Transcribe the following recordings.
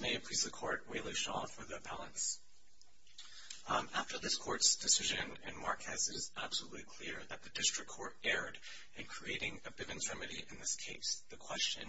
May it please the court, Weylie Shaw for the appellants. After this court's decision and Marquez is absolutely clear that the district court erred in creating a Bivens remedy in this case, the question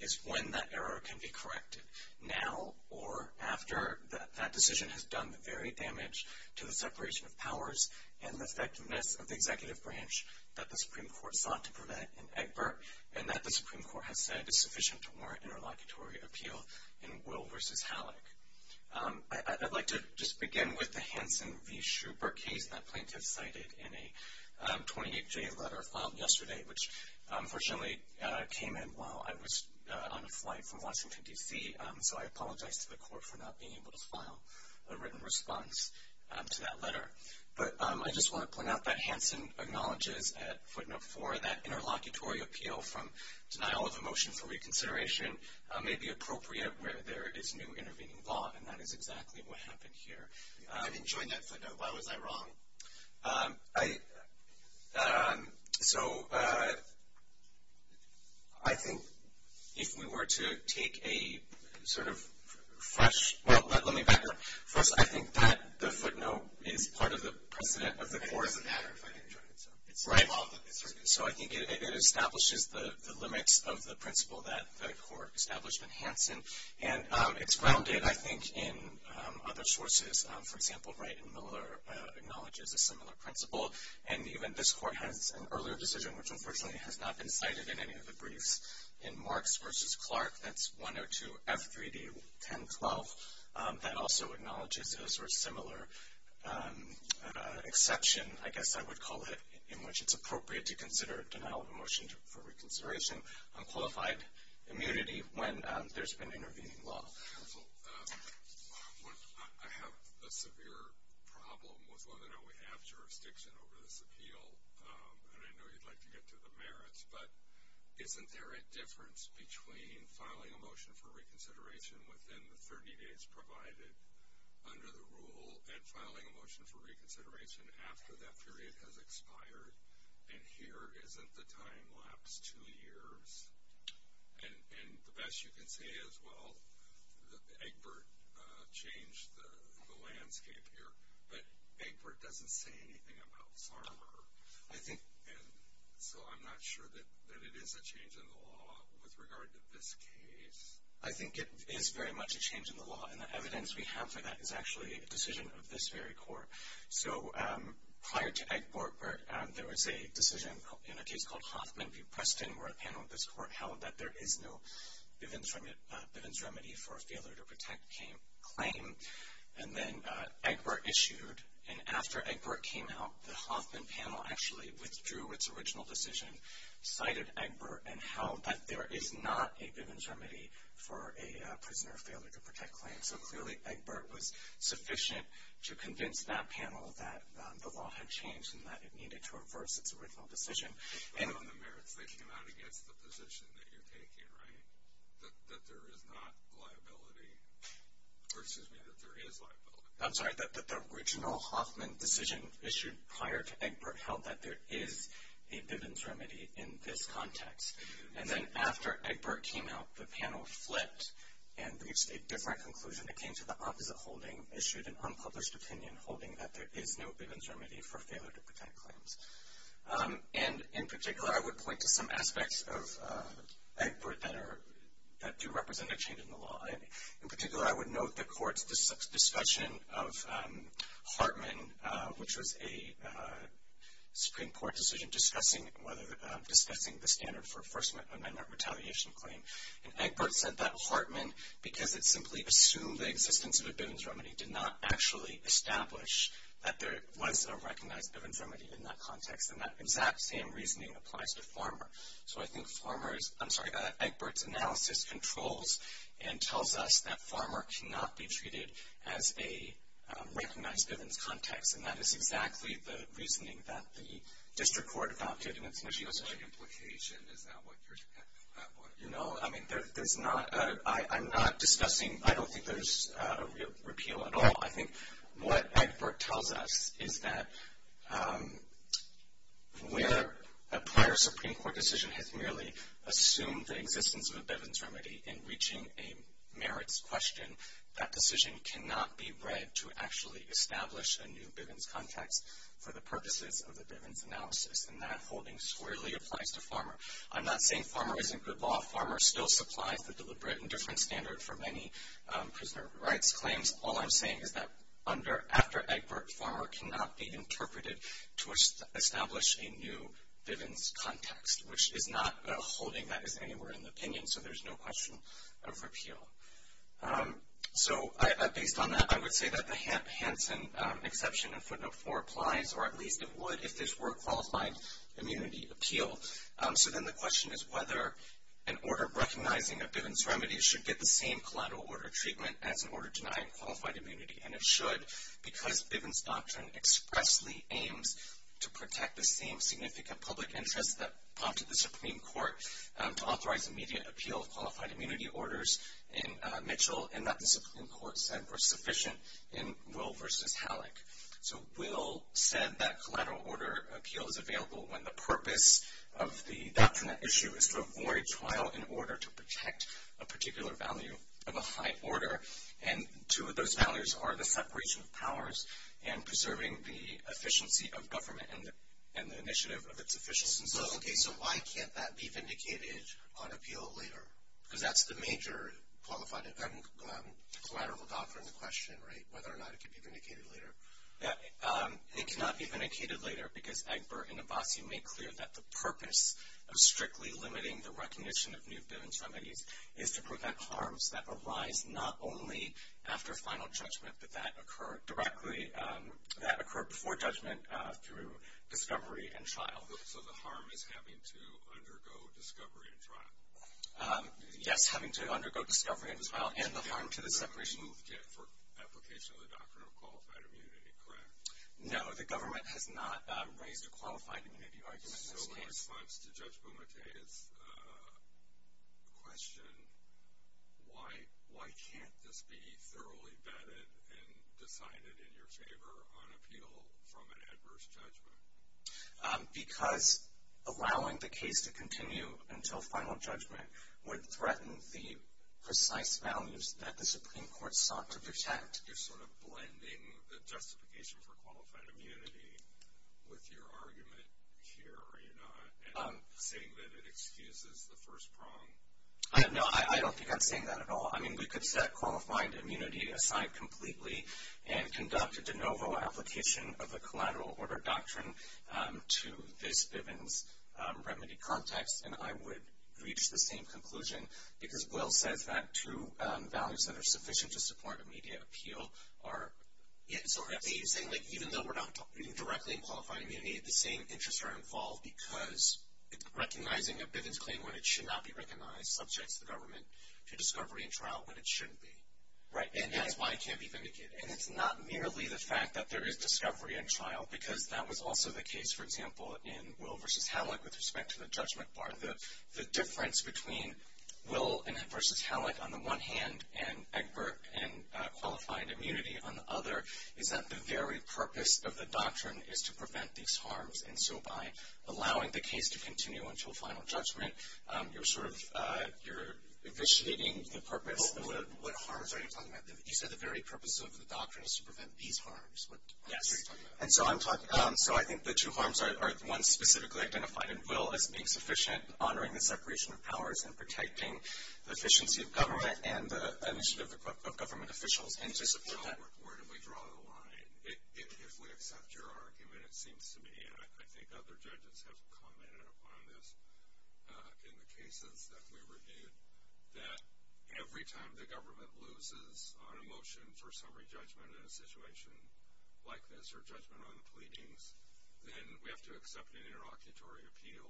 is when that error can be corrected. Now or after that decision has done very damage to the separation of powers and the effectiveness of the executive branch that the Supreme Court sought to prevent in Egbert and that the Supreme Court has said is sufficient to warrant interlocutory appeal in Will v. Halleck. I'd like to just begin with the Hanson v. Schubert case that plaintiffs cited in a 28-J letter filed yesterday which unfortunately came in while I was on a flight from Washington, D.C. So I apologize to the court for not being able to file a written response to that letter. But I just want to point out that Hanson acknowledges at footnote 4 that interlocutory appeal from denial of a motion for reconsideration may be appropriate where there is new intervening law and that is exactly what happened here. I didn't join that footnote, why was I wrong? So I think if we were to take a sort of fresh, well let me back up. First I think that the footnote is part of the precedent of the court. It doesn't matter if I didn't join it. So I think it establishes the limits of the principle that the court established in Hanson and it's grounded I think in other sources. For example, Wright and Miller acknowledges a similar principle and even this court has an earlier decision which unfortunately has not been cited in any of the briefs in Marks v. Clark, that's 102F3D1012. That also acknowledges a sort of similar exception, I guess I would call it, in which it's appropriate to consider denial of a motion for reconsideration on qualified immunity when there's been intervening law. Counsel, I have a severe problem with whether or not we have jurisdiction over this appeal and I know you'd like to get to the merits, but isn't there a difference between filing a motion for reconsideration within the 30 days provided under the rule and filing a motion for reconsideration after that period has expired and here isn't the time lapse two years? And the best you can say is, well, Egbert changed the landscape here, but Egbert doesn't say anything about Farmer. And so I'm not sure that it is a change in the law with regard to this case. I think it is very much a change in the law and the evidence we have for that is actually a decision of this very court. So prior to Egbert, there was a decision in a case called Hoffman v. Preston where a panel of this court held that there is no Bivens remedy for a failure to protect claim. And then Egbert issued, and after Egbert came out, the Hoffman panel actually withdrew its original decision, cited Egbert, and held that there is not a Bivens remedy for a prisoner of failure to protect claim. So clearly, Egbert was sufficient to convince that panel that the law had changed and that it needed to reverse its original decision. And on the merits, they came out against the position that you're taking, right? That there is not liability, or excuse me, that there is liability. I'm sorry, that the original Hoffman decision issued prior to Egbert held that there is a Bivens remedy in this context. And then after Egbert came out, the panel flipped and reached a different conclusion. It came to the opposite holding, issued an unpublished opinion holding that there is no Bivens remedy for failure to protect claims. And in particular, I would point to some aspects of Egbert that do represent a change in the law. In particular, I would note the court's discussion of Hartman, which was a Supreme Court decision discussing the standard for a First Amendment retaliation claim. And Egbert said that Hartman, because it simply assumed the existence of a Bivens remedy, did not actually establish that there was a recognized Bivens remedy in that context. And that exact same reasoning applies to Farmer. So I think Farmer's, I'm sorry, that Egbert's analysis controls and tells us that Farmer cannot be treated as a recognized Bivens context. And that is exactly the reasoning that the district court adopted. And it's not even such an implication, is that what you're, you know? I mean, there's not, I'm not discussing, I don't think there's a real repeal at all. I think what Egbert tells us is that where a prior Supreme Court decision has merely assumed the existence of a Bivens remedy in reaching a merits question, that decision cannot be read to actually establish a new Bivens context for the purposes of the Bivens analysis. And that holding squarely applies to Farmer. I'm not saying Farmer isn't good law. Farmer still supplies the deliberate and different standard for many prisoner rights claims. All I'm saying is that under, after Egbert, Farmer cannot be interpreted to establish a new Bivens context, which is not holding that as anywhere in the opinion. So there's no question of repeal. So based on that, I would say that the Hansen exception in footnote four applies, or at least it would if this were a qualified immunity appeal. So then the question is whether an order of recognizing a Bivens remedy should get the same collateral order treatment as an order denying qualified immunity. And it should, because Bivens doctrine expressly aims to protect the same significant public interests that prompted the Supreme Court to authorize immediate appeal of qualified immunity orders in Mitchell, and that the Supreme Court said were sufficient in Will versus Halleck. So Will said that collateral order appeal is available when the purpose of the doctrine on that issue is to avoid trial in order to protect a particular value of a high order. And two of those values are the separation of powers and preserving the efficiency of government and the initiative of its officials. And so, okay, so why can't that be vindicated on appeal later? because that's the major qualified collateral doctrine in the question, right? Whether or not it can be vindicated later. Yeah, it cannot be vindicated later because Egbert and strictly limiting the recognition of new Bivens remedies is to prevent harms that arise not only after final judgment, but that occur directly, that occur before judgment through discovery and trial. So the harm is having to undergo discovery and trial. Yes, having to undergo discovery and trial and the harm to the separation. For application of the doctrine of qualified immunity, correct? So in response to Judge Bumate's question, why can't this be thoroughly vetted and decided in your favor on appeal from an adverse judgment? Because allowing the case to continue until final judgment would threaten the precise values that the Supreme Court sought to protect. You're sort of blending the justification for qualified immunity with your argument here, are you not, and saying that it excuses the first prong? No, I don't think I'm saying that at all. I mean, we could set qualified immunity aside completely and conduct a de novo application of the collateral order doctrine to this Bivens remedy context, and I would reach the same conclusion. Because Will says that two values that are sufficient to support immediate appeal are. Yeah, so he's saying even though we're not directly in qualified immunity, the same interests are involved because recognizing a Bivens claim when it should not be recognized subjects the government to discovery and trial when it shouldn't be. Right, and that's why it can't be vindicated. And it's not merely the fact that there is discovery and trial, because that was also the case, for example, in Will versus Hamlet with respect to the judgment bar, the difference between Will versus Hamlet on the one hand, and Egbert and qualified immunity on the other, is that the very purpose of the doctrine is to prevent these harms. And so by allowing the case to continue until final judgment, you're sort of, you're eviscerating the purpose. What harms are you talking about? You said the very purpose of the doctrine is to prevent these harms. Yes. And so I'm talking, so I think the two harms are, one specifically identified in Will as being sufficient, honoring the separation of powers, and protecting the efficiency of government and the initiative of government officials, and to support that- I'll reportedly draw the line, if we accept your argument, it seems to me, and I think other judges have commented upon this in the cases that we reviewed, that every time the government loses on a motion for summary judgment in a situation like this, or judgment on the pleadings, then we have to accept an interlocutory appeal.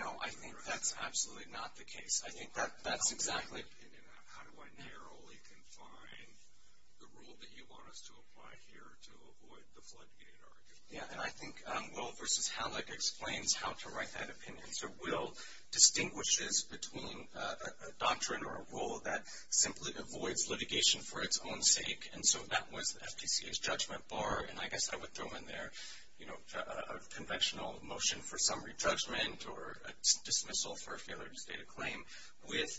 No, I think that's absolutely not the case. I think that's exactly- How do I narrowly confine the rule that you want us to apply here to avoid the floodgate argument? Yeah, and I think Will versus Hamlet explains how to write that opinion. So Will distinguishes between a doctrine or a rule that simply avoids litigation for its own sake, and so that was FTCA's judgment bar, and I guess I would throw in there, a conventional motion for summary judgment, or a dismissal for a failure to state a claim, with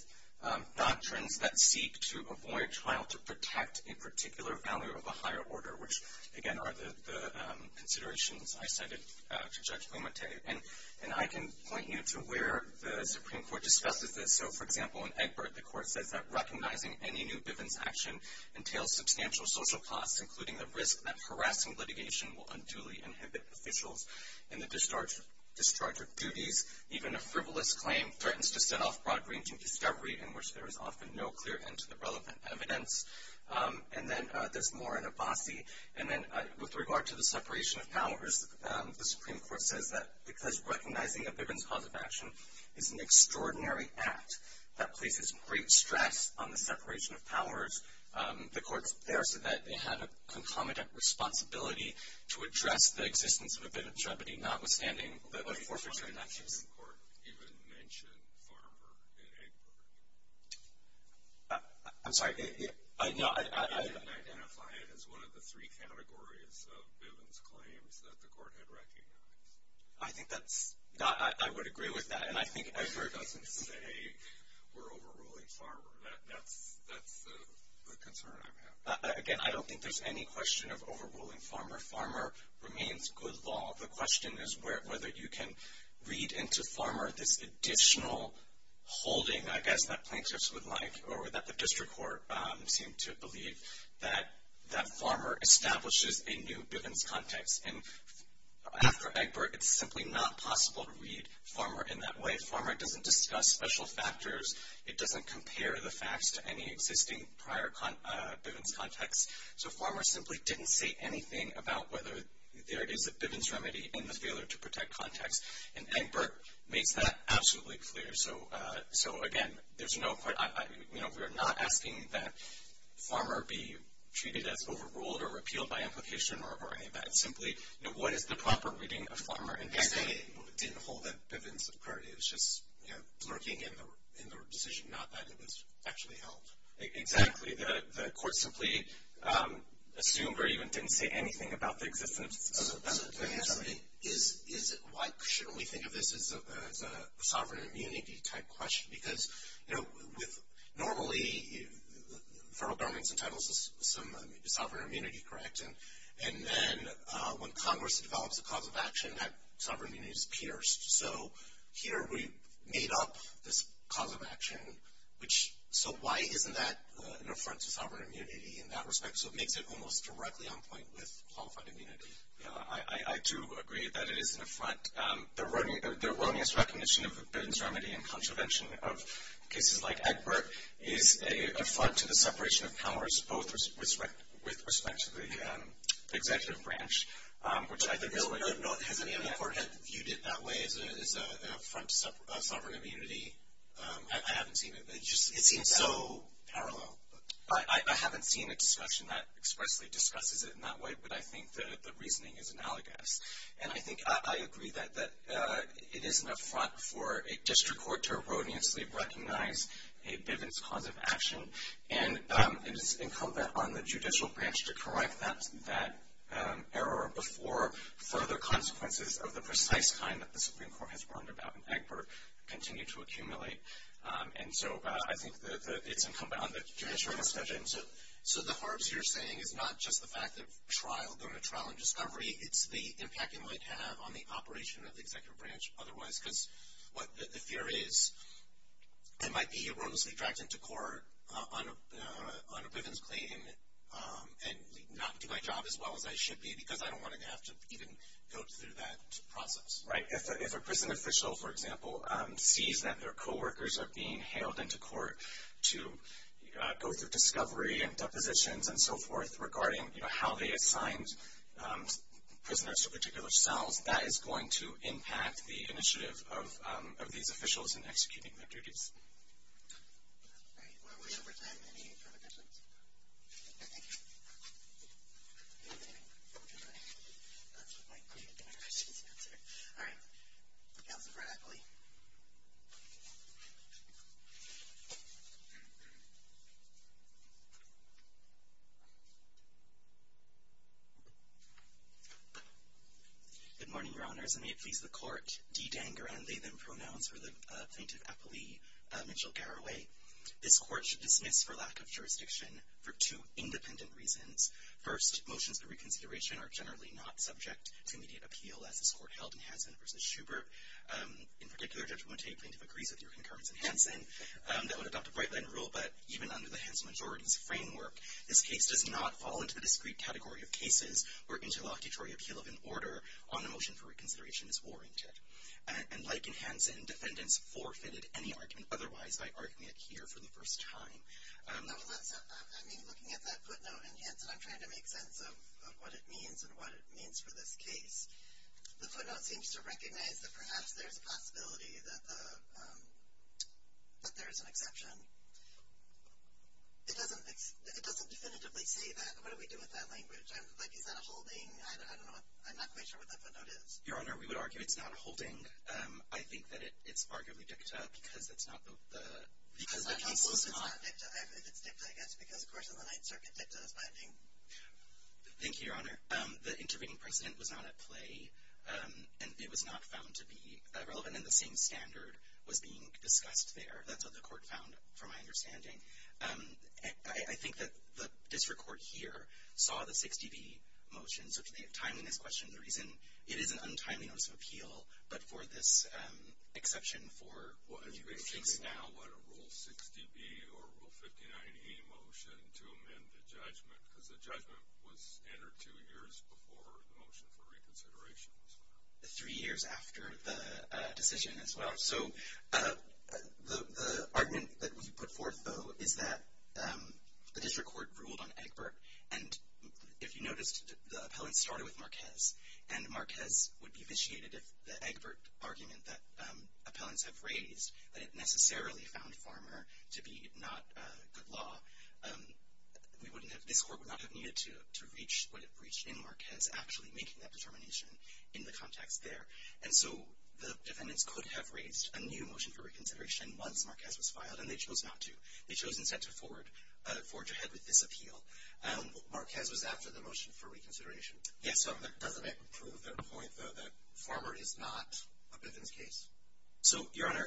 doctrines that seek to avoid trial to protect a particular value of a higher order, which, again, are the considerations I cited to Judge Bumate. And I can point you to where the Supreme Court discusses this. So, for example, in Egbert, the court says that recognizing any new Bivens action entails substantial social costs, including the risk that harassing litigation will unduly inhibit officials in the discharge of duties. Even a frivolous claim threatens to set off broad-ranging discovery, in which there is often no clear end to the relevant evidence. And then there's more in Abbasi, and then with regard to the separation of powers, the Supreme Court says that because recognizing a Bivens cause of action the court's there so that they have a concomitant responsibility to address the existence of a Bivens remedy, notwithstanding the forfeiture in that case. I'm sorry, I didn't identify it as one of the three categories of Bivens claims that the court had recognized. I think that's not, I would agree with that. And I think Egbert doesn't say we're overruling farmer. That's the concern I have. Again, I don't think there's any question of overruling farmer. Farmer remains good law. The question is whether you can read into farmer this additional holding, I guess, that plaintiffs would like or that the district court seem to believe that farmer establishes a new Bivens context. And after Egbert, it's simply not possible to read farmer in that way. Farmer doesn't discuss special factors. It doesn't compare the facts to any existing prior Bivens context. So farmer simply didn't say anything about whether there is a Bivens remedy in the failure to protect context. And Egbert makes that absolutely clear. So again, there's no, we're not asking that farmer be treated as overruled or repealed by implication or any of that. Simply, what is the proper reading of farmer? And he's saying it didn't hold that Bivens occurred. It was just, you know, lurking in the decision, not that it was actually held. Exactly. The court simply assumed or even didn't say anything about the existence of Bivens. Is it like, shouldn't we think of this as a sovereign immunity type question? Because, you know, normally, federal government entitles some sovereign immunity, correct? And then when Congress develops a cause of action, that sovereign immunity is pierced. So here we made up this cause of action, which, so why isn't that an affront to sovereign immunity in that respect? So it makes it almost directly on point with qualified immunity. Yeah, I do agree that it is an affront. The erroneous recognition of the Bivens remedy and contravention of cases like Egbert is an separation of powers, both with respect to the executive branch, which I think is what you're talking about. Has any of the court had viewed it that way as an affront to sovereign immunity? I haven't seen it. It just, it seems so parallel. I haven't seen a discussion that expressly discusses it in that way, but I think the reasoning is analogous. And I think I agree that it is an affront for a district court to erroneously recognize a Bivens cause of action. And it is incumbent on the judicial branch to correct that error before further consequences of the precise kind that the Supreme Court has warned about in Egbert continue to accumulate. And so I think it's incumbent on the judicial branch to judge it. So the harps you're saying is not just the fact of trial, going to trial and discovery. It's the impact it might have on the operation of the executive branch. Otherwise, because what the fear is, I might be erroneously dragged into court on a Bivens claim and not do my job as well as I should be because I don't want to have to even go through that process. Right. If a prison official, for example, sees that their co-workers are being hailed into court to go through discovery and depositions and so forth regarding how they assigned prisoners to particular cells, that is going to impact the initiative of these officials in executing their duties. All right, we're over time. Any further questions? Thank you. All right, Councilor Bradley. Good morning, Your Honors. And may it please the Court, de danger and lay them pronouns for the Plaintiff Appellee Mitchell Garraway. This Court should dismiss for lack of jurisdiction for two independent reasons. First, motions of reconsideration are generally not subject to immediate appeal as this Court held in Hanson v. Schubert. In particular, Judge Montague, Plaintiff agrees with your concurrence in Hanson that would adopt a right-line rule, but even under the Hanson majority's framework, this case does not fall into the discrete category of cases where interlocutory appeal of an order on a motion for reconsideration is warranted. And like in Hanson, defendants forfeited any argument otherwise by arguing it here for the first time. I mean, looking at that footnote in Hanson, I'm trying to make sense of what it means and what it means for this case. The footnote seems to recognize that perhaps there's a possibility that there is an exception. It doesn't definitively say that. What do we do with that language? I'm like, is that a holding? I don't know. I'm not quite sure what that footnote is. Your Honor, we would argue it's not a holding. I think that it's arguably dicta because it's not the case was not. It's dicta, I guess, because, of course, in the Ninth Circuit, dicta is binding. Thank you, Your Honor. The intervening precedent was not at play. And it was not found to be relevant. And the same standard was being discussed there. That's what the court found, from my understanding. I think that the district court here saw the 6db motion. So to the timeliness question, the reason it is an untimely notice of appeal, but for this exception for the case now. What, a Rule 6db or Rule 59e motion to amend the judgment? Because the judgment was entered two years before the motion for reconsideration. Three years after the decision as well. So the argument that we put forth, though, is that the district court ruled on Egbert. And if you noticed, the appellant started with Marquez. And Marquez would be vitiated if the Egbert argument that appellants have raised, that it necessarily found Farmer to be not good law, this court would not have needed to reach what it reached in Marquez, actually making that determination in the context there. And so the defendants could have raised a new motion for reconsideration once Marquez was filed, and they chose not to. They chose instead to forge ahead with this appeal. Marquez was after the motion for reconsideration. Yes, so doesn't that prove the point, though, that Farmer is not a Bivens case? So, Your Honor,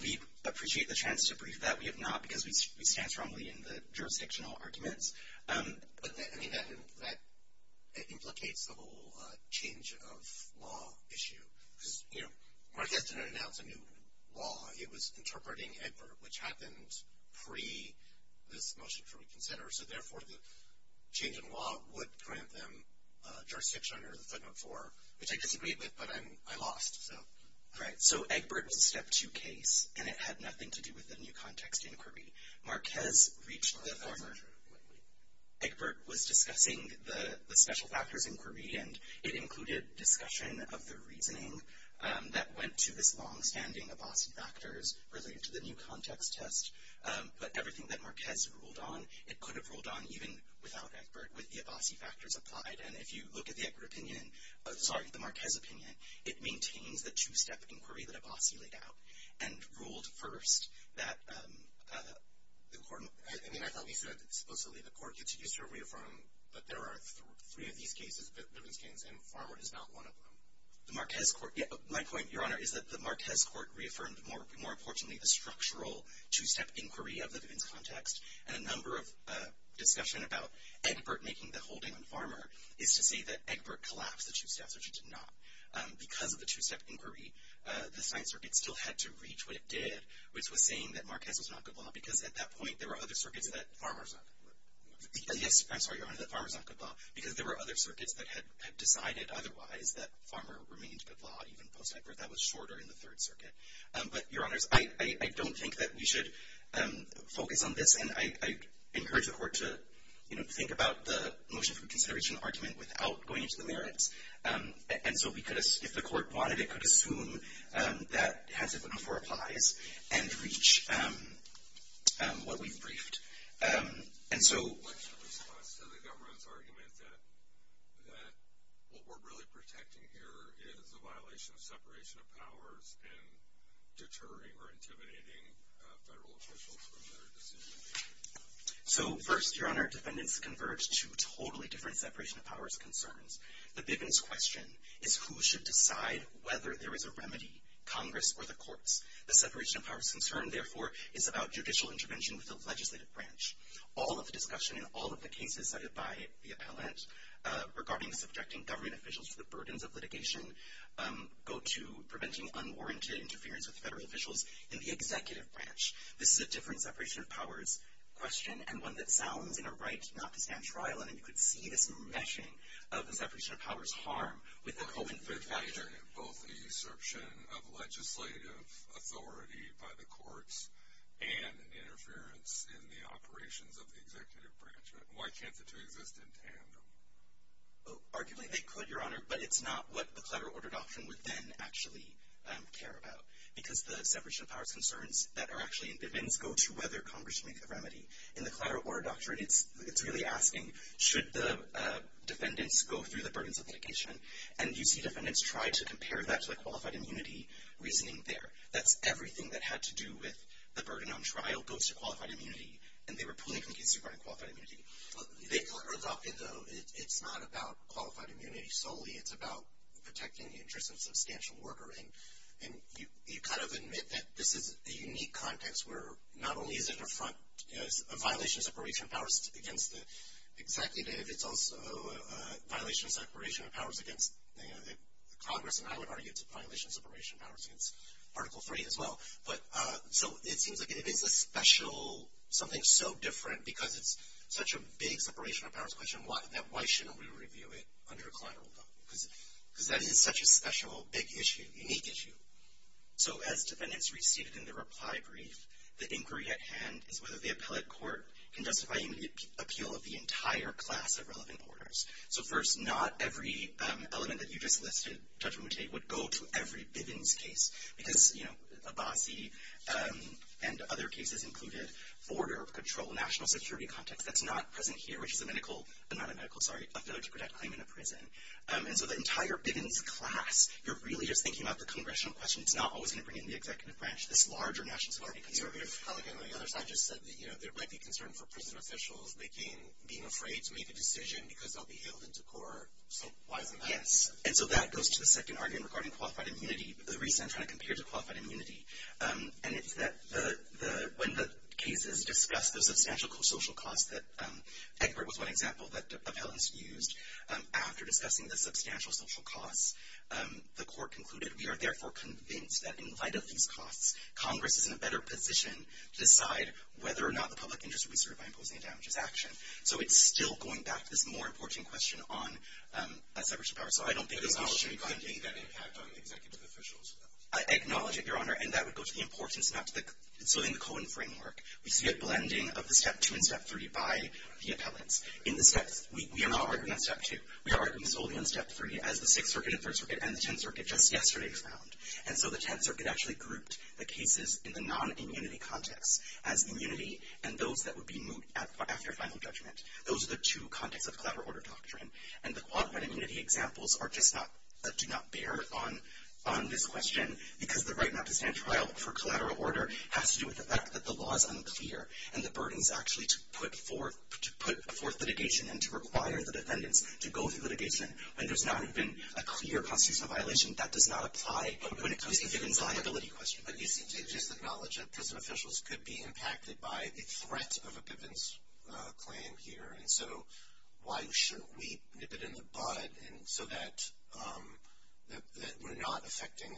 we appreciate the chance to brief that. We have not, because we stand strongly in the jurisdictional arguments. But, I mean, that implicates the whole change of law issue. Because, you know, Marquez didn't announce a new law. It was interpreting Egbert, which happened pre this motion for reconsideration. So, therefore, the change in law would grant them jurisdiction under the Third Amendment IV, which I disagreed with, but I lost. Right. So Egbert was a step two case, and it had nothing to do with the new context inquiry. Marquez reached the Farmer. Wait, wait. Egbert was discussing the special factors inquiry, and it included discussion of the reasoning that went to this longstanding Abbasi factors related to the new context test. But everything that Marquez ruled on, it could have ruled on even without Egbert with the Abbasi factors applied. And if you look at the Egbert opinion, sorry, the Marquez opinion, it maintains the two step inquiry that Abbasi laid out and ruled first that the court. I mean, I thought we said supposedly the court gets used to reaffirming, but there are three of these cases, Bivens case, and Farmer is not one of them. The Marquez court. My point, Your Honor, is that the Marquez court reaffirmed, more importantly, the structural two step inquiry of the Bivens context. And a number of discussion about Egbert making the holding on Farmer is to say that Egbert collapsed the two steps, which it did not. Because of the two step inquiry, the science circuit still had to reach what it did, which was saying that Marquez was not good law. Because at that point, there were other circuits that Farmer's not good law. Yes, I'm sorry, Your Honor, that Farmer's not good law. Because there were other circuits that had decided otherwise that Farmer remained good law, even post-Egbert. That was shorter in the Third Circuit. But, Your Honors, I don't think that we should focus on this. And I encourage the court to, you know, think about the motion for reconsideration argument without going into the merits. And so, if the court wanted, it could assume that Hassell-Benoffer applies and reach what we've briefed. And so, what's your response to the government's argument that what we're really protecting here is a violation of separation of powers and deterring or intimidating federal officials from their decision? So, first, Your Honor, defendants converge to totally different separation of powers concerns. The biggest question is who should decide whether there is a remedy, Congress or the courts. The separation of powers concern, therefore, is about judicial intervention with the legislative branch. All of the discussion in all of the cases cited by the appellant regarding subjecting government officials to the burdens of litigation go to preventing unwarranted interference with federal officials in the executive branch. This is a different separation of powers question and one that sounds in a right not to stand trial. And you could see this meshing of the separation of powers harm with the COVID-19 factor. Both the usurpation of legislative authority by the courts and interference in the operations of the executive branch. Why can't the two exist in tandem? Arguably, they could, Your Honor, but it's not what the collateral order doctrine would then actually care about. Because the separation of powers concerns that are actually in defense go to whether Congress should make a remedy. In the collateral order doctrine, it's really asking, should the defendants go through the burdens of litigation? And you see defendants try to compare that to the qualified immunity reasoning there. That's everything that had to do with the burden on trial goes to qualified immunity. And they were pulling from cases regarding qualified immunity. But the collateral order doctrine, though, it's not about qualified immunity solely. It's about protecting the interests of substantial worker. And you kind of admit that this is a unique context where not only is it a front, you know, it's a violation of separation of powers against the executive. It's also a violation of separation of powers against the Congress. And I would argue it's a violation of separation of powers against Article III as well. But so it seems like it is a special, something so different because it's such a big separation of powers question that why shouldn't we review it under a collateral doctrine? Because that is such a special, big issue, unique issue. So as defendants received in the reply brief, the inquiry at hand is whether the appellate court can justify the appeal of the entire class of relevant orders. So first, not every element that you just listed, Judge Mutate, would go to every Bivens case. Because, you know, Abbasi and other cases included border control, national security context. That's not present here, which is a medical, not a medical, sorry, a failure to protect claim in a prison. And so the entire Bivens class, you're really just thinking about the congressional question. It's not always going to bring in the executive branch. This larger national security conservative colleague on the other side just said that, you know, there might be concern for prison officials making, being afraid to make a decision because they'll be hailed into court. So why isn't that? Yes. And so that goes to the second argument regarding qualified immunity. The reason I'm trying to compare to qualified immunity, and it's that the, when the cases discussed the substantial social costs that, Egbert was one example that appellants used after discussing the substantial social costs, the court concluded, we are therefore convinced that in light of these costs, Congress is in a better position to decide whether or not the public interest would be served by imposing a damages action. So it's still going back to this more important question on a severance of power. So I don't think there's an issue regarding the impact on executive officials. I acknowledge it, Your Honor. And that would go to the importance, not to the, so in the Cohen framework, we see a blending of the step two and step three by the appellants. In the steps, we are not arguing on step two. We are arguing solely on step three as the Sixth Circuit and Third Circuit and the Tenth Circuit just yesterday found. And so the Tenth Circuit actually grouped the cases in the non-immunity context as immunity and those that would be moot after final judgment. Those are the two contexts of collateral order doctrine. And the qualified immunity examples are just not, do not bear on this question because the right not to stand trial for collateral order has to do with the fact that the law is unclear and the burden is actually to put forth litigation and to require the defendants to go through litigation when there's not even a clear constitutional violation. That does not apply when it comes to Vivian's liability question. But you seem to acknowledge that prison officials could be impacted by the threat of a Vivian's claim here. And so why shouldn't we nip it in the bud so that we're not affecting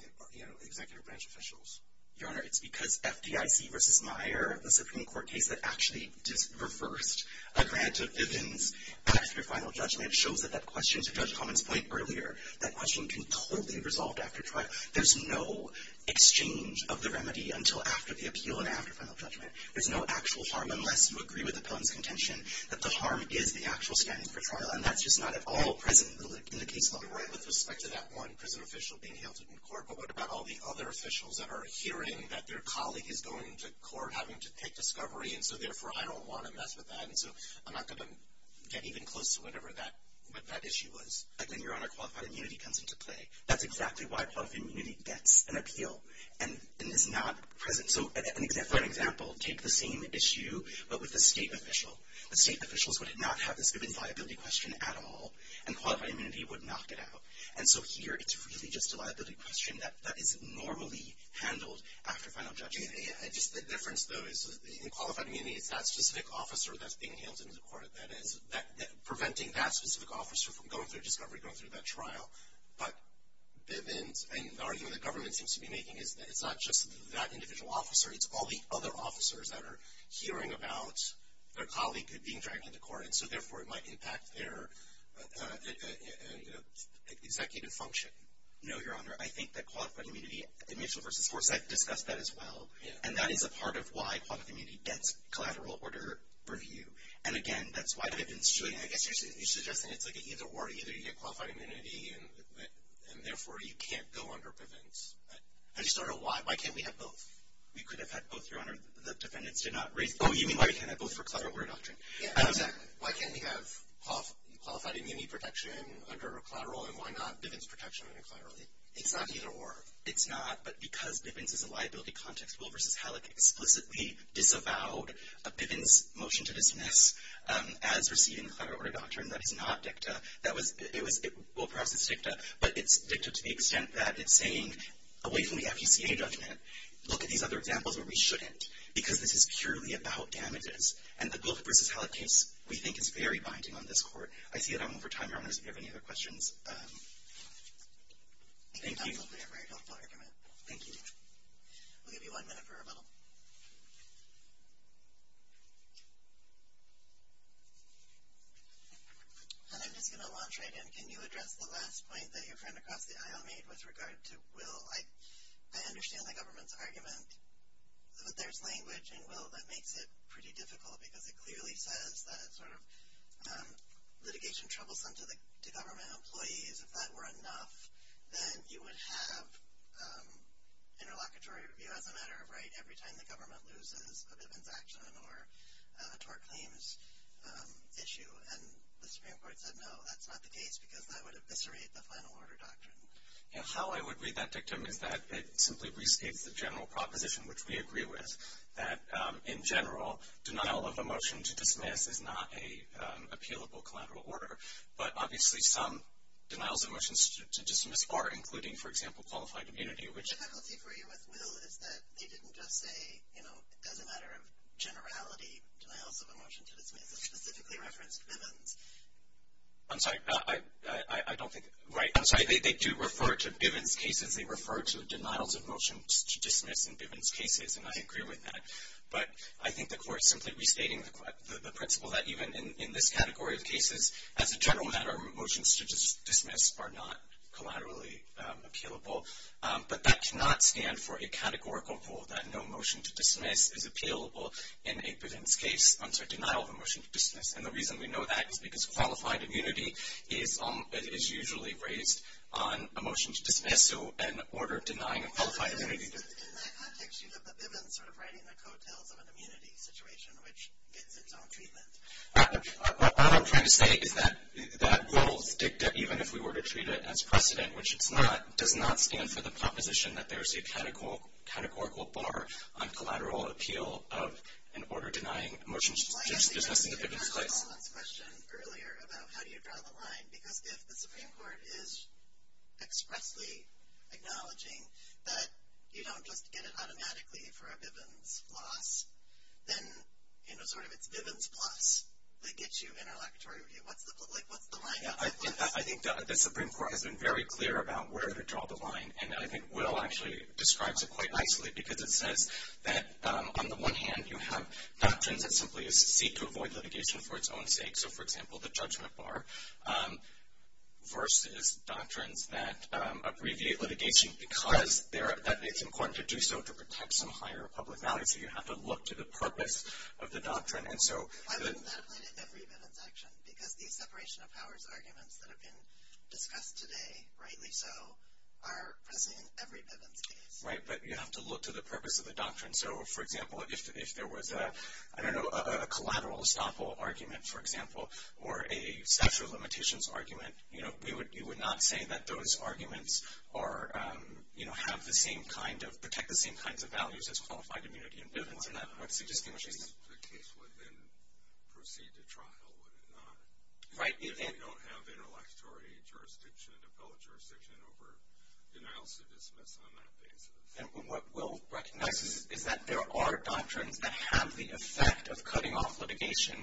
executive branch officials? Your Honor, it's because FDIC versus Meyer, the Supreme Court case that actually just reversed a grant of Vivian's after final judgment shows that that question, to Judge Fletcher, was actually resolved after trial. There's no exchange of the remedy until after the appeal and after final judgment. There's no actual harm unless you agree with the pellent's contention that the harm is the actual standing for trial. And that's just not at all present in the case law. Right, with respect to that one prison official being held in court. But what about all the other officials that are hearing that their colleague is going to court having to take discovery? And so therefore, I don't want to mess with that. And so I'm not going to get even close to whatever that issue was. I think your Honor, qualified immunity comes into play. That's exactly why qualified immunity gets an appeal and is not present. So for an example, take the same issue but with a state official. The state officials would not have this Vivian's liability question at all. And qualified immunity would knock it out. And so here, it's really just a liability question that is normally handled after final judging. I just think the difference, though, is in qualified immunity, it's that specific officer that's being held in the court that is preventing that specific officer from going through discovery, going through that trial. But Vivian's argument that government seems to be making is that it's not just that individual officer. It's all the other officers that are hearing about their colleague being dragged into court. And so therefore, it might impact their executive function. No, Your Honor. I think that qualified immunity, initial versus force, I've discussed that as well. And that is a part of why qualified immunity gets collateral order review. And again, that's why Vivian should. I guess you're suggesting it's like an either or. Either you get qualified immunity, and therefore, you can't go under Bivens. I just don't know why. Why can't we have both? We could have had both, Your Honor. The defendants did not raise. Oh, you mean why we can't have both for collateral order doctrine? Yeah, exactly. Why can't we have qualified immunity protection under collateral? And why not Bivens protection under collateral? It's not either or. It's not. But because Bivens is a liability context rule versus Halleck explicitly disavowed a collateral order doctrine. That is not dicta. That was, it was, well, perhaps it's dicta. But it's dicta to the extent that it's saying, away from the FECA judgment, look at these other examples where we shouldn't. Because this is purely about damages. And the Guilford versus Halleck case, we think, is very binding on this Court. I see that I'm over time, Your Honor. So if you have any other questions, thank you. Thank you. We'll give you one minute for rebuttal. And I'm just going to launch right in. Can you address the last point that your friend across the aisle made with regard to will? I understand the government's argument that there's language in will that makes it pretty difficult because it clearly says that it's sort of litigation troublesome to government employees. If that were enough, then you would have interlocutory review as a matter of right every time the government loses a Bivens action or a tort claims issue. And the Supreme Court said, no, that's not the case because that would eviscerate the final order doctrine. How I would read that dictum is that it simply restates the general proposition, which we agree with, that, in general, denial of a motion to dismiss is not an appealable collateral order. But obviously, some denials of motion to dismiss are, including, for example, qualified immunity, which faculty for you with will is that they didn't just say, you know, as a matter of generality, denials of a motion to dismiss specifically referenced Bivens. I'm sorry, I don't think. Right. I'm sorry. They do refer to Bivens cases. They refer to denials of motion to dismiss in Bivens cases. And I agree with that. But I think the court simply restating the principle that even in this category of cases, as a general matter, motions to dismiss are not collaterally appealable. But that cannot stand for a categorical rule that no motion to dismiss is appealable in a Bivens case under denial of a motion to dismiss. And the reason we know that is because qualified immunity is usually raised on a motion to dismiss, so an order denying a qualified immunity. In that context, you have the Bivens sort of writing the coattails of an immunity situation, which gets its own treatment. What I'm trying to say is that that rules dicta, even if we were to treat it as precedent, which it's not, does not stand for the proposition that there's a categorical bar on collateral appeal of an order denying a motion to dismiss in a Bivens case. Well, I asked a general comments question earlier about how do you draw the line. Because if the Supreme Court is expressly acknowledging that you don't just get it in a laboratory review, what's the line? Yeah, I think the Supreme Court has been very clear about where to draw the line. And I think Will actually describes it quite nicely because it says that on the one hand, you have doctrines that simply seek to avoid litigation for its own sake. So for example, the judgment bar versus doctrines that abbreviate litigation because it's important to do so to protect some higher public value. So you have to look to the purpose of the doctrine. I would not play to every Bivens action because the separation of powers arguments that have been discussed today, rightly so, are present in every Bivens case. Right, but you have to look to the purpose of the doctrine. So for example, if there was a collateral estoppel argument, for example, or a statute of limitations argument, you would not say that those arguments have the same kind of, protect the same kinds of values as qualified immunity in Bivens. And that's what distinguishes them. The case would then proceed to trial, would it not? Right. If you don't have an electorate jurisdiction, appellate jurisdiction over denials to dismiss on that basis. And what Will recognizes is that there are doctrines that have the effect of cutting off litigation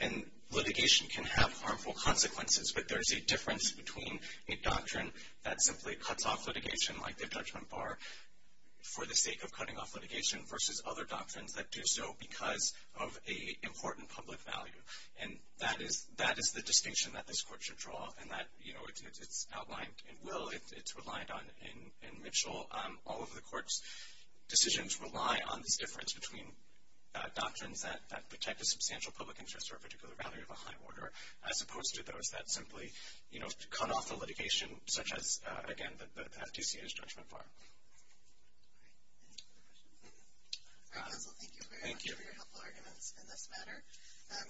and litigation can have harmful consequences. But there's a difference between a doctrine that simply cuts off litigation, like the judgment bar, for the sake of cutting off litigation versus other doctrines that do so because of a important public value. And that is the distinction that this court should draw. And that, you know, it's outlined in Will, it's reliant on in Mitchell. All of the court's decisions rely on this difference between doctrines that protect a substantial public interest or a particular value of a high order, as opposed to those that simply, you know, cut off the litigation, such as, again, the FTCA's judgment bar. All right. Any other questions? All right, counsel, thank you very much for your helpful arguments in this matter.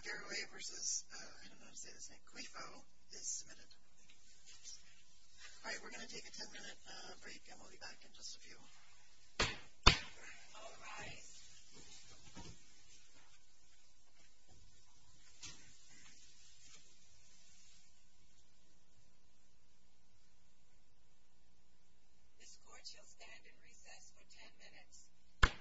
Garraway versus, I don't know how to say this name, Cuefo is submitted. All right, we're going to take a 10-minute break and we'll be back in just a few. All rise. This court shall stand in recess for 10 minutes.